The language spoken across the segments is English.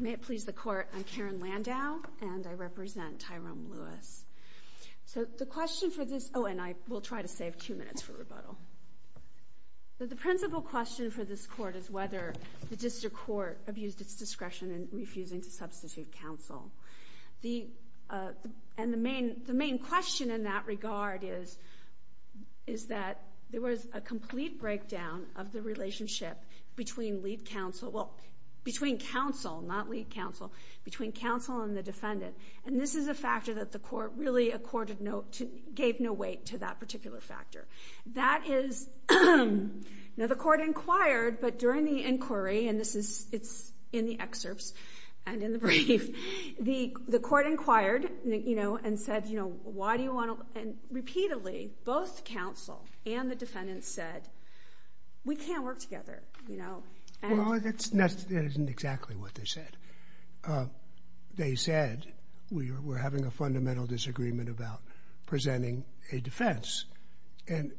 May it please the court, I'm Karen Landau and I represent Tyrome Lewis. So the question for this, oh and I will try to save two minutes for rebuttal. The principal question for this court is whether the district court abused its discretion in refusing to substitute counsel. The main question in that regard is that there was a complete breakdown of the relationship between counsel and the defendant. And this is a factor that the court really gave no weight to that particular factor. That is, now the court inquired but during the inquiry and this is, it's in the excerpts and in the brief. The court inquired you know and said you know why do you want to, and repeatedly both counsel and the defendant said we can't work together you know. Well that isn't exactly what they said. They said we were having a fundamental disagreement about presenting a defense. And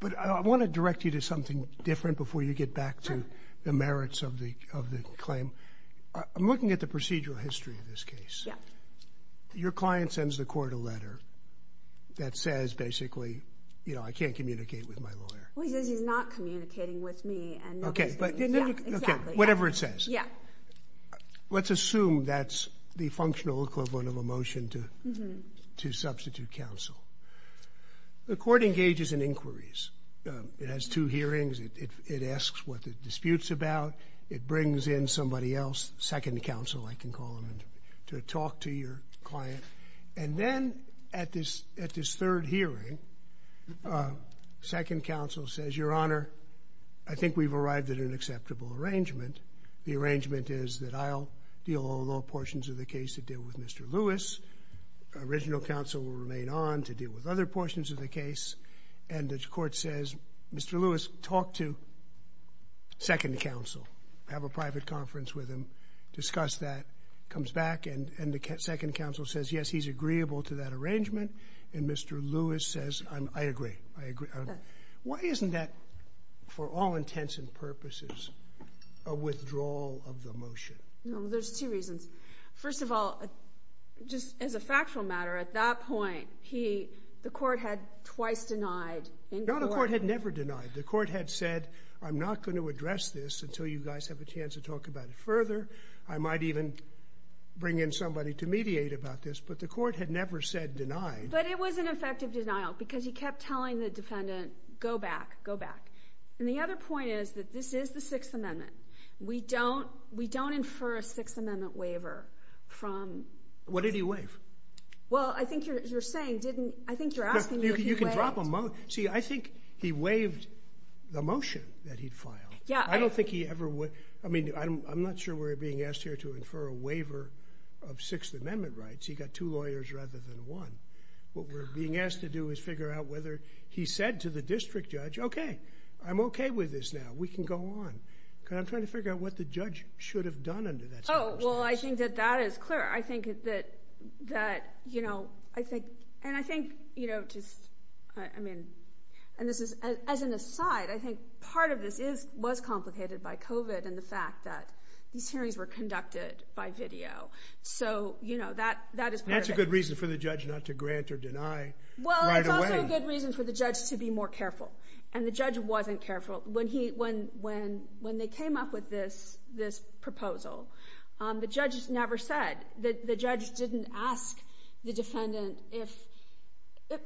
but I want to direct you to something different before you get back to the merits of the claim. I'm looking at the procedural history of this case. Your client sends the court a letter that says basically you know I can't communicate with my lawyer. Well he says he's not communicating with me. Okay. Exactly. Whatever it says. Yeah. Let's assume that's the functional equivalent of a motion to substitute counsel. The court engages in inquiries. It has two hearings. It asks what the dispute's about. It brings in somebody else, second counsel I can call him, to talk to your client. And then at this third hearing, second counsel says your honor I think we've arrived at an acceptable arrangement. The arrangement is that I'll deal all the portions of the case to deal with Mr. Lewis. Original counsel will remain on to deal with other portions of the case. And the court says Mr. Lewis talk to second counsel. Have a private conference with him. Discuss that. Comes back and the second counsel says yes, he's agreeable to that arrangement. And Mr. Lewis says I agree. I agree. Why isn't that for all intents and purposes a withdrawal of the motion? There's two reasons. First of all, just as a factual matter, at that point the court had twice denied inquiry. No, the court had never denied. The court had said I'm not going to address this until you guys have a chance to talk about it further. I might even bring in somebody to mediate about this. But the court had never said denied. But it was an effective denial because he kept telling the defendant go back, go back. And the other point is that this is the Sixth Amendment. We don't infer a Sixth Amendment waiver from. What did he waive? Well, I think you're saying, I think you're asking what he waived. You can drop a motion. See, I think he waived the motion that he filed. I don't think he ever would. I mean, I'm not sure we're being asked here to infer a waiver of Sixth Amendment rights. He got two lawyers rather than one. What we're being asked to do is figure out whether he said to the district judge, okay, I'm okay with this now. We can go on. I'm trying to figure out what the judge should have done under that situation. Well, I think that that is clear. I think that, you know, I think and I think, you know, I mean, and this is as an aside, I think part of this is was complicated by COVID and the fact that these hearings were conducted by video. So, you know, that that is a good reason for the judge not to grant or deny. Well, it's also a good reason for the judge to be more careful. And the judge wasn't careful when he when when when they came up with this, this proposal. The judge never said that. The judge didn't ask the defendant if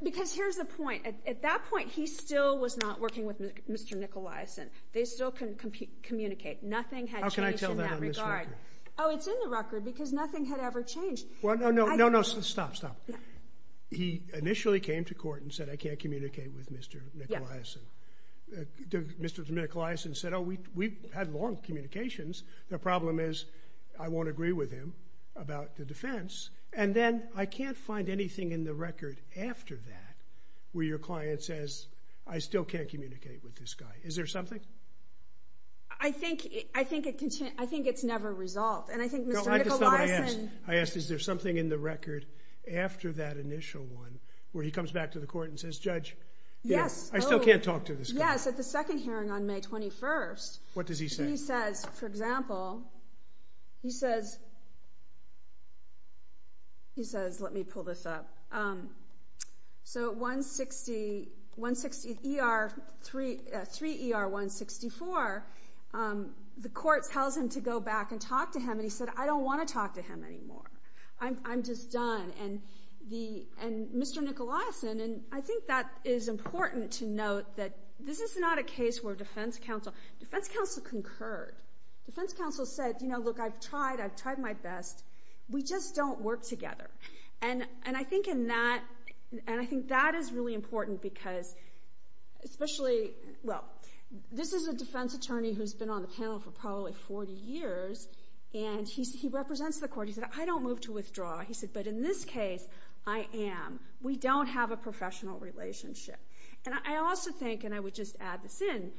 because here's the point. At that point, he still was not working with Mr. Nicolais, and they still couldn't communicate. Nothing had changed in that regard. Oh, it's in the record because nothing had ever changed. Well, no, no, no, no, no. Stop, stop. He initially came to court and said, I can't communicate with Mr. Nicolais. Mr. Nicolais said, oh, we had long communications. The problem is I won't agree with him about the defense. And then I can't find anything in the record after that where your client says, I still can't communicate with this guy. Is there something? I think I think I think it's never resolved. And I think I asked, is there something in the record after that initial one where he comes back to the court and says, Judge? Yes. I still can't talk to this. Yes. At the second hearing on May 21st. What does he say? He says, for example, he says, he says, let me pull this up. So 160, 160 ER 3, 3 ER 164, the court tells him to go back and talk to him. And he said, I don't want to talk to him anymore. I'm just done. And the and Mr. Nicolais, and I think that is important to note that this is not a case where defense counsel, defense counsel concurred. Defense counsel said, you know, look, I've tried. I've tried my best. We just don't work together. And and I think in that and I think that is really important because especially well, this is a defense attorney who's been on the panel for probably 40 years. And he's he represents the court. He said, I don't move to withdraw. He said, but in this case, I am. We don't have a professional relationship. And I also think and I would just add this in.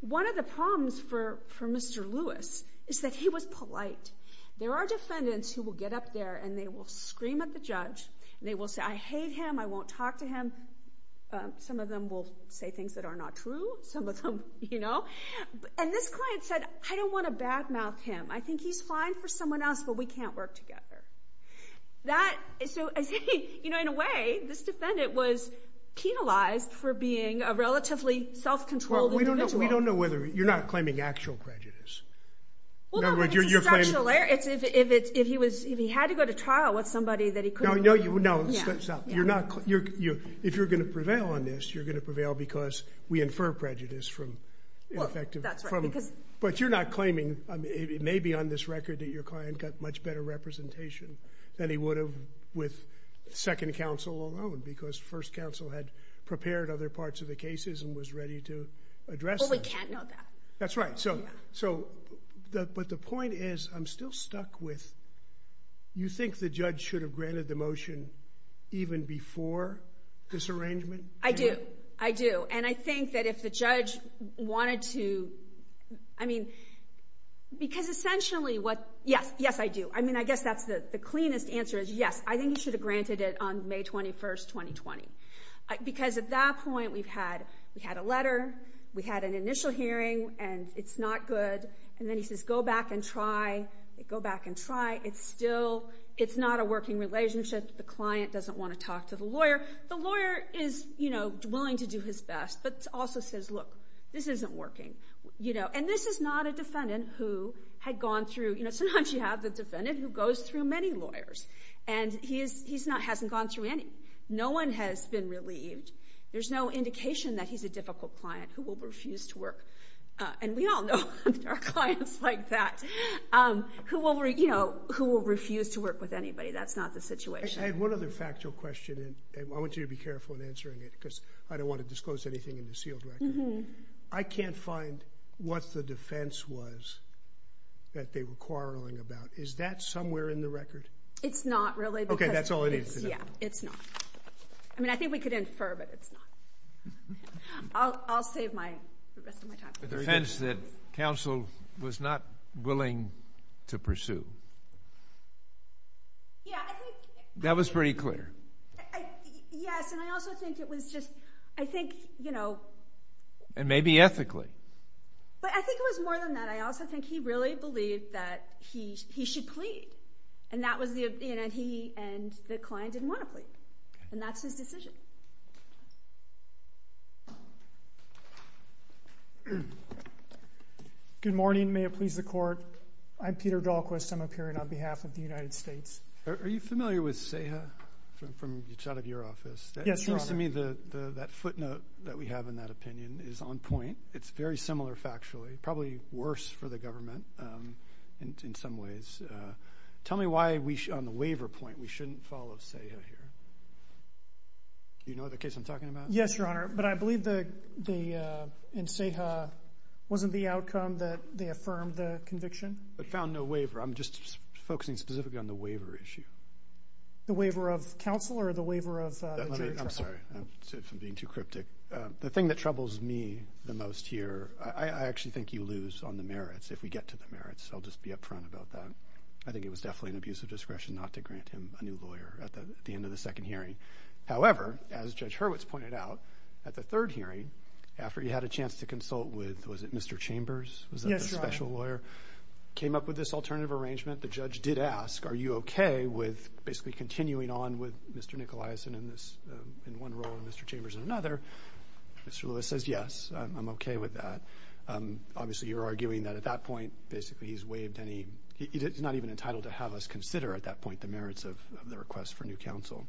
One of the problems for for Mr. Lewis is that he was polite. There are defendants who will get up there and they will scream at the judge. They will say, I hate him. I won't talk to him. Some of them will say things that are not true. Some of them, you know, and this client said, I don't want to bad mouth him. I think he's fine for someone else, but we can't work together. That is, so I say, you know, in a way, this defendant was penalized for being a relatively self-controlled individual. We don't know. We don't know whether you're not claiming actual prejudice. In other words, you're claiming. It's if it's if he was if he had to go to trial with somebody that he couldn't. No, you know, you're not. If you're going to prevail on this, you're going to prevail because we infer prejudice from. But you're not claiming it may be on this record that your client got much better representation than he would have with second counsel alone, because first counsel had prepared other parts of the cases and was ready to address. We can't know that. That's right. So so. But the point is, I'm still stuck with. You think the judge should have granted the motion even before this arrangement? I do. I do. I think that if the judge wanted to. I mean, because essentially what. Yes. Yes, I do. I mean, I guess that's the cleanest answer is yes. I think you should have granted it on May 21st, 2020, because at that point we've had we had a letter. We had an initial hearing and it's not good. And then he says, go back and try it. Go back and try. It's still it's not a working relationship. The client doesn't want to talk to the lawyer. The lawyer is, you know, willing to do his best, but also says, look, this isn't working. You know, and this is not a defendant who had gone through. You know, sometimes you have the defendant who goes through many lawyers and he is he's not hasn't gone through any. No one has been relieved. There's no indication that he's a difficult client who will refuse to work. And we all know there are clients like that who will, you know, who will refuse to work with anybody. That's not the situation. I had one other factual question. I want you to be careful in answering it because I don't want to disclose anything in the sealed record. I can't find what the defense was that they were quarreling about. Is that somewhere in the record? It's not really. OK, that's all it is. Yeah, it's not. I mean, I think we could infer, but it's not. I'll save my time. The defense that counsel was not willing to pursue. Yeah, I think. That was pretty clear. Yes, and I also think it was just, I think, you know. And maybe ethically. But I think it was more than that. I also think he really believed that he should plead. And that was the, you know, he and the client didn't want to plead. And that's his decision. Good morning. May it please the Court. I'm Peter Dahlquist. I'm appearing on behalf of the United States. Are you familiar with CEHA from the side of your office? Yes, Your Honor. It seems to me that footnote that we have in that opinion is on point. It's very similar factually, probably worse for the government in some ways. Tell me why on the waiver point we shouldn't follow CEHA here. Do you know the case I'm talking about? Yes, Your Honor. But I believe in CEHA wasn't the outcome that they affirmed the conviction. But found no waiver. I'm just focusing specifically on the waiver issue. The waiver of counsel or the waiver of jury trial? I'm sorry. I'm being too cryptic. The thing that troubles me the most here, I actually think you lose on the merits. If we get to the merits, I'll just be upfront about that. I think it was definitely an abuse of discretion not to grant him a new lawyer at the end of the second hearing. However, as Judge Hurwitz pointed out, at the third hearing, after he had a chance to consult with, was it Mr. Chambers? Yes, Your Honor. Was that the special lawyer? Came up with this alternative arrangement. The judge did ask, are you okay with basically continuing on with Mr. Nicolias in one role and Mr. Chambers in another? Mr. Lewis says, yes, I'm okay with that. Obviously, you're arguing that at that point basically he's not even entitled to have us consider at that point the merits of the request for new counsel.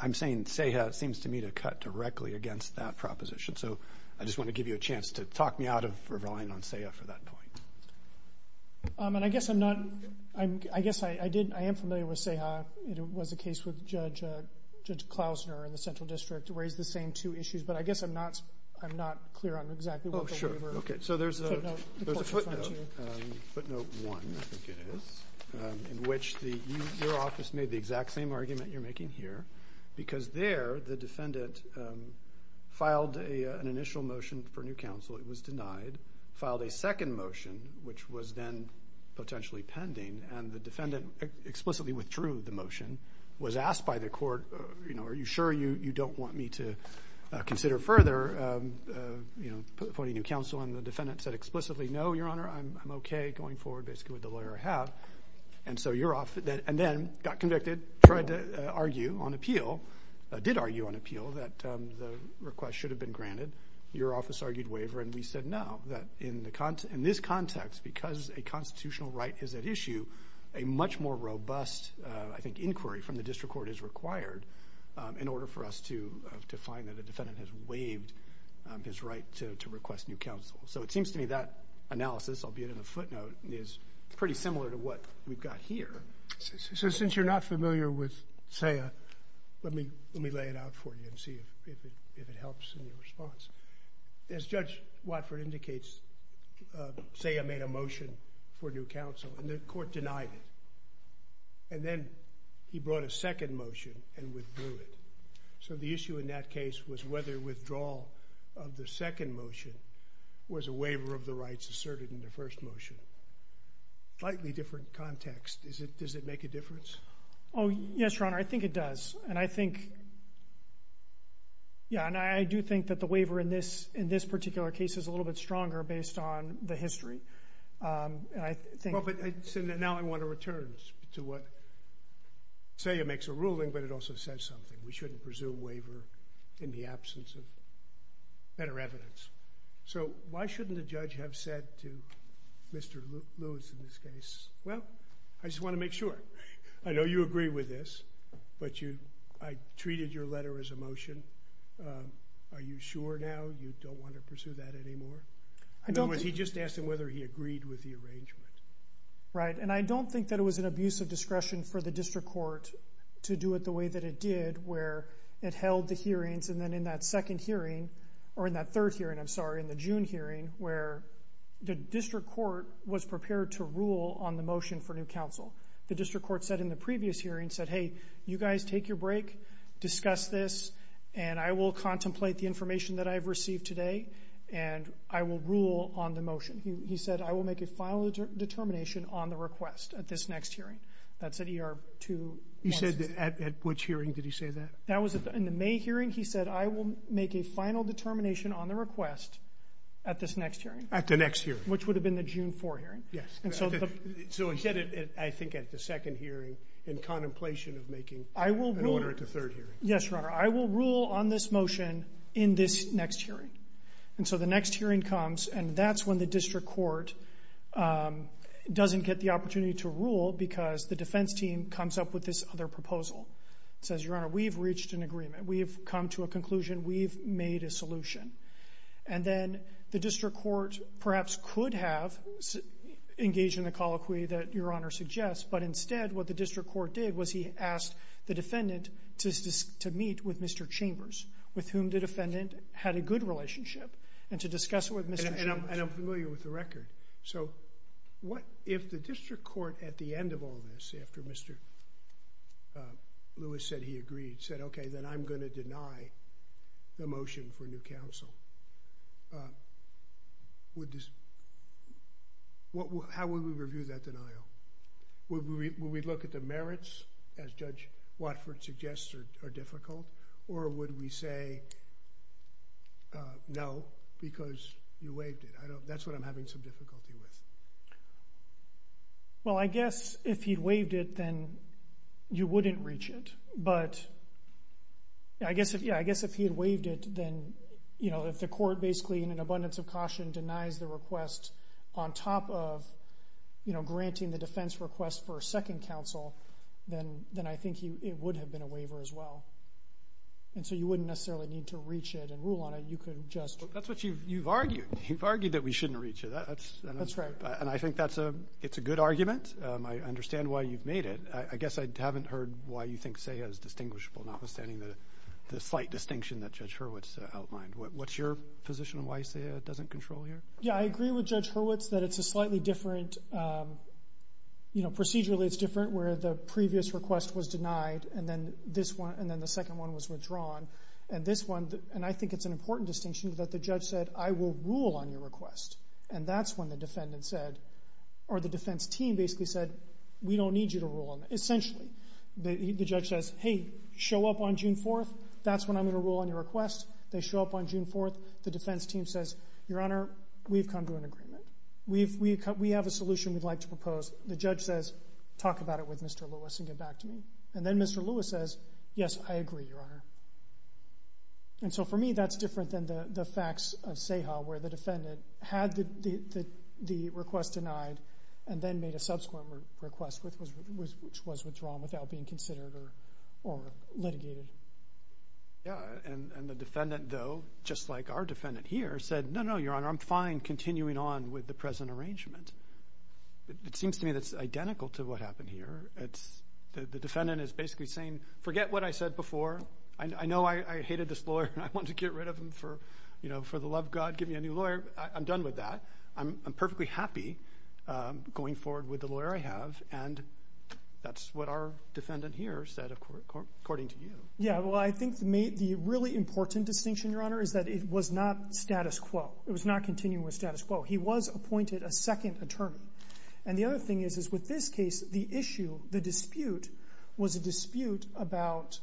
I'm saying CEHA seems to me to cut directly against that proposition. I just want to give you a chance to talk me out of relying on CEHA for that point. I guess I am familiar with CEHA. It was a case with Judge Klausner in the Central District. It raised the same two issues, but I guess I'm not clear on exactly what the waiver. Oh, sure. There's a footnote, footnote one, I think it is, in which your office made the exact same argument you're making here because there the defendant filed an initial motion for new counsel. It was denied, filed a second motion, which was then potentially pending, and the defendant explicitly withdrew the motion, was asked by the court, are you sure you don't want me to consider further appointing new counsel, and the defendant said explicitly, no, Your Honor, I'm okay going forward basically with the lawyer I have. Then got convicted, tried to argue on appeal, did argue on appeal that the request should have been granted. Your office argued waiver, and we said no. In this context, because a constitutional right is at issue, a much more robust, I think, inquiry from the district court is required in order for us to find that the defendant has waived his right to request new counsel. So it seems to me that analysis, albeit in a footnote, is pretty similar to what we've got here. So since you're not familiar with SAIA, let me lay it out for you and see if it helps in your response. As Judge Watford indicates, SAIA made a motion for new counsel, and the court denied it, and then he brought a second motion and withdrew it. So the issue in that case was whether withdrawal of the second motion was a waiver of the rights asserted in the first motion. Slightly different context. Does it make a difference? Oh, yes, Your Honor, I think it does, and I think, yeah, and I do think that the waiver in this particular case is a little bit stronger based on the history. But now I want to return to what SAIA makes a ruling, but it also says something. We shouldn't presume waiver in the absence of better evidence. So why shouldn't a judge have said to Mr. Lewis in this case, well, I just want to make sure. I know you agree with this, but I treated your letter as a motion. Are you sure now you don't want to pursue that anymore? In other words, he just asked him whether he agreed with the arrangement. Right, and I don't think that it was an abuse of discretion for the district court to do it the way that it did, where it held the hearings, and then in that second hearing, or in that third hearing, I'm sorry, in the June hearing, where the district court was prepared to rule on the motion for new counsel. The district court said in the previous hearing, said, hey, you guys take your break, discuss this, and I will contemplate the information that I've received today, and I will rule on the motion. He said, I will make a final determination on the request at this next hearing. That's at ER 216. He said at which hearing did he say that? That was in the May hearing. He said, I will make a final determination on the request at this next hearing. At the next hearing. Which would have been the June 4 hearing. Yes. So he said, I think, at the second hearing, in contemplation of making an order at the third hearing. Yes, Your Honor. I will rule on this motion in this next hearing. And so the next hearing comes, and that's when the district court doesn't get the opportunity to rule because the defense team comes up with this other proposal. It says, Your Honor, we've reached an agreement. We've come to a conclusion. We've made a solution. And then the district court perhaps could have engaged in the colloquy that Your Honor suggests, but instead what the district court did was he asked the defendant to meet with Mr. Chambers, with whom the defendant had a good relationship, and to discuss it with Mr. Chambers. And I'm familiar with the record. So, what if the district court at the end of all this, after Mr. Lewis said he agreed, said, okay, then I'm going to deny the motion for new counsel. How would we review that denial? Would we look at the merits, as Judge Watford suggested, are difficult? Or would we say, no, because you waived it. That's what I'm having some difficulty with. Well, I guess if he'd waived it, then you wouldn't reach it. But I guess if he had waived it, then, you know, if the court basically in an abundance of caution denies the request on top of, you know, granting the defense request for a second counsel, then I think it would have been a waiver as well. And so you wouldn't necessarily need to reach it and rule on it. You could just. That's what you've argued. You've argued that we shouldn't reach it. That's right. And I think that's a good argument. I understand why you've made it. I guess I haven't heard why you think SEHA is distinguishable, notwithstanding the slight distinction that Judge Hurwitz outlined. What's your position on why SEHA doesn't control here? Yeah, I agree with Judge Hurwitz that it's a slightly different, you know, procedurally it's different where the previous request was denied and then the second one was withdrawn. And this one, and I think it's an important distinction that the judge said, I will rule on your request. And that's when the defendant said, or the defense team basically said, we don't need you to rule on it. Essentially, the judge says, hey, show up on June 4th. That's when I'm going to rule on your request. They show up on June 4th. The defense team says, Your Honor, we've come to an agreement. We have a solution we'd like to propose. The judge says, talk about it with Mr. Lewis and get back to me. And then Mr. Lewis says, yes, I agree, Your Honor. And so, for me, that's different than the facts of SEHA where the defendant had the request denied and then made a subsequent request which was withdrawn without being considered or litigated. Yeah, and the defendant, though, just like our defendant here, said, no, no, Your Honor, I'm fine continuing on with the present arrangement. It seems to me that's identical to what happened here. The defendant is basically saying, forget what I said before. I know I hated this lawyer and I wanted to get rid of him for the love of God. Give me a new lawyer. I'm done with that. I'm perfectly happy going forward with the lawyer I have. And that's what our defendant here said according to you. Yeah, well, I think the really important distinction, Your Honor, is that it was not status quo. It was not continuing with status quo. He was appointed a second attorney. And the other thing is with this case, the issue, the dispute, was a dispute about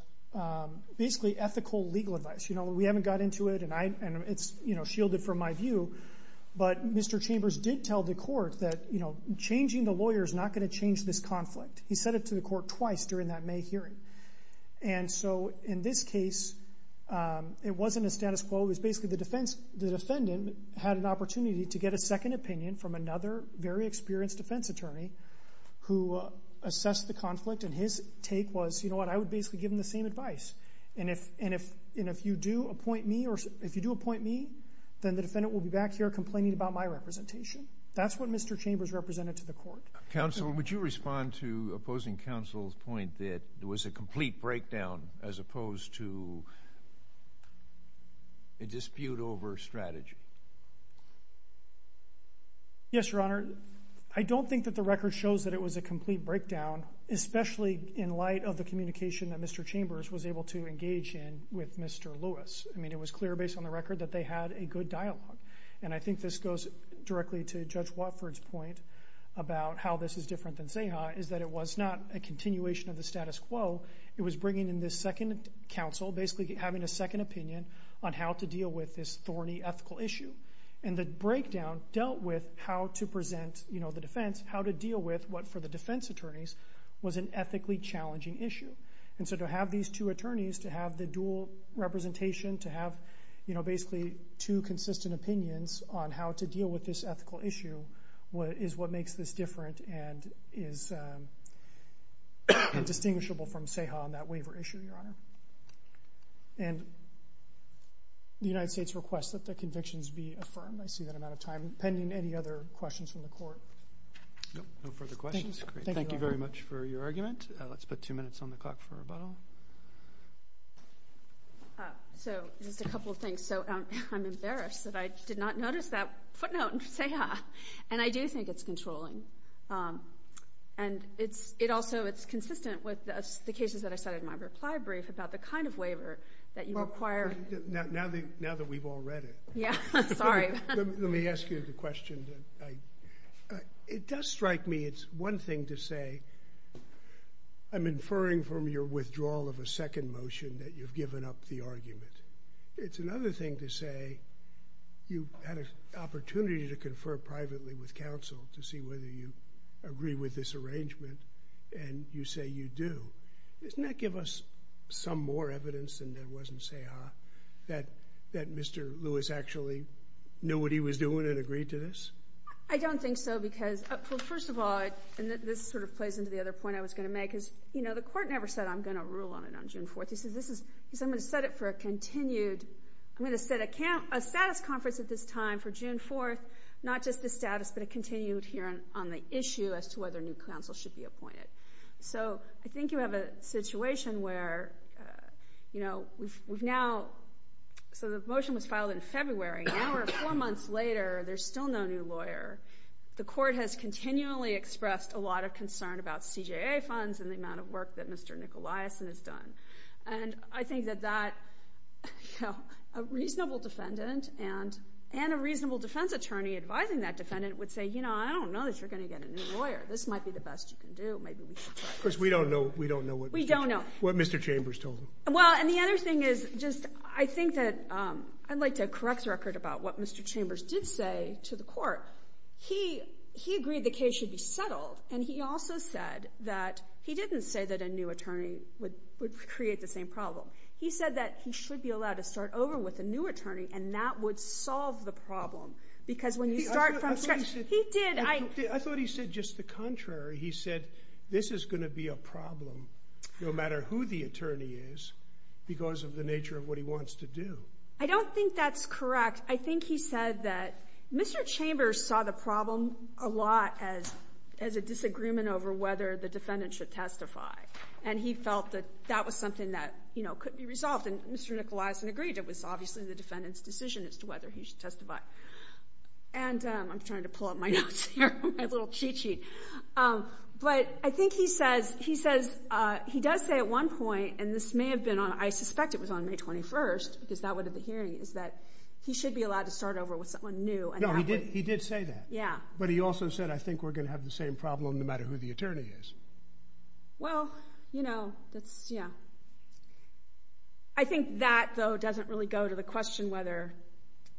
basically ethical legal advice. We haven't got into it and it's shielded from my view, but Mr. Chambers did tell the court that changing the lawyer is not going to change this conflict. He said it to the court twice during that May hearing. And so, in this case, it wasn't a status quo. It was basically the defendant had an opportunity to get a second opinion from another very experienced defense attorney who assessed the conflict and his take was, you know what, I would basically give him the same advice. And if you do appoint me, then the defendant will be back here complaining about my representation. That's what Mr. Chambers represented to the court. Counsel, would you respond to opposing counsel's point that it was a complete breakdown as opposed to a dispute over strategy? Yes, Your Honor. I don't think that the record shows that it was a complete breakdown, especially in light of the communication that Mr. Chambers was able to engage in with Mr. Lewis. I mean, it was clear based on the record that they had a good dialogue. And I think this goes directly to Judge Watford's point about how this is different than Zaha is that it was not a continuation of the status quo. It was bringing in this second counsel, basically having a second opinion on how to deal with this thorny ethical issue. And the breakdown dealt with how to present the defense, how to deal with what, for the defense attorneys, was an ethically challenging issue. And so to have these two attorneys, to have the dual representation, to have basically two consistent opinions on how to deal with this ethical issue is what makes this different and is indistinguishable from Zaha on that waiver issue, Your Honor. And the United States requests that the convictions be affirmed. I see that I'm out of time. Pending any other questions from the court. No further questions. Thank you very much for your argument. Let's put two minutes on the clock for rebuttal. So just a couple of things. So I'm embarrassed that I did not notice that footnote in Zaha. And I do think it's controlling. And also it's consistent with the cases that I cited in my reply brief about the kind of waiver that you require. Now that we've all read it. Yeah, sorry. Let me ask you the question. It does strike me it's one thing to say, I'm inferring from your withdrawal of a second motion that you've given up the argument. It's another thing to say you had an opportunity to confer privately with counsel to see whether you agree with this arrangement and you say you do. Doesn't that give us some more evidence than there was in Zaha that Mr. Lewis actually knew what he was doing and agreed to this? I don't think so because first of all, and this sort of plays into the other point I was going to make, is the court never said I'm going to rule on it on June 4th. It says I'm going to set it for a continued, I'm going to set a status conference at this time for June 4th, not just the status but a continued hearing on the issue as to whether new counsel should be appointed. So I think you have a situation where we've now, so the motion was filed in February. Now we're four months later. There's still no new lawyer. The court has continually expressed a lot of concern about CJA funds and the amount of work that Mr. Nicoliason has done. And I think that a reasonable defendant and a reasonable defense attorney advising that defendant would say, you know, I don't know that you're going to get a new lawyer. This might be the best you can do. Of course, we don't know what Mr. Chambers told them. Well, and the other thing is just I think that I'd like to correct the record about what Mr. Chambers did say to the court. He agreed the case should be settled and he also said that he didn't say that a new attorney would create the same problem. He said that he should be allowed to start over with a new attorney and that would solve the problem because when you start from scratch. He did. I thought he said just the contrary. He said this is going to be a problem no matter who the attorney is because of the nature of what he wants to do. I don't think that's correct. I think he said that Mr. Chambers saw the problem a lot as a disagreement over whether the defendant should testify, and he felt that that was something that, you know, could be resolved. And Mr. Nicolaisen agreed it was obviously the defendant's decision as to whether he should testify. And I'm trying to pull up my notes here, my little cheat sheet. But I think he says he does say at one point, and this may have been on I suspect it was on May 21st because that would have been hearing, is that he should be allowed to start over with someone new. No, he did say that. Yeah. But he also said I think we're going to have the same problem no matter who the attorney is. Well, you know, that's, yeah. I think that, though, doesn't really go to the question whether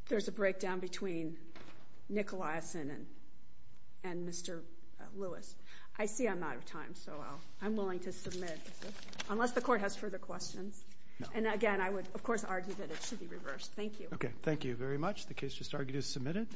there's a breakdown between Nicolaisen and Mr. Lewis. I see I'm out of time, so I'm willing to submit unless the court has further questions. And, again, I would, of course, argue that it should be reversed. Thank you. Okay. Thank you very much. The case just argued is submitted.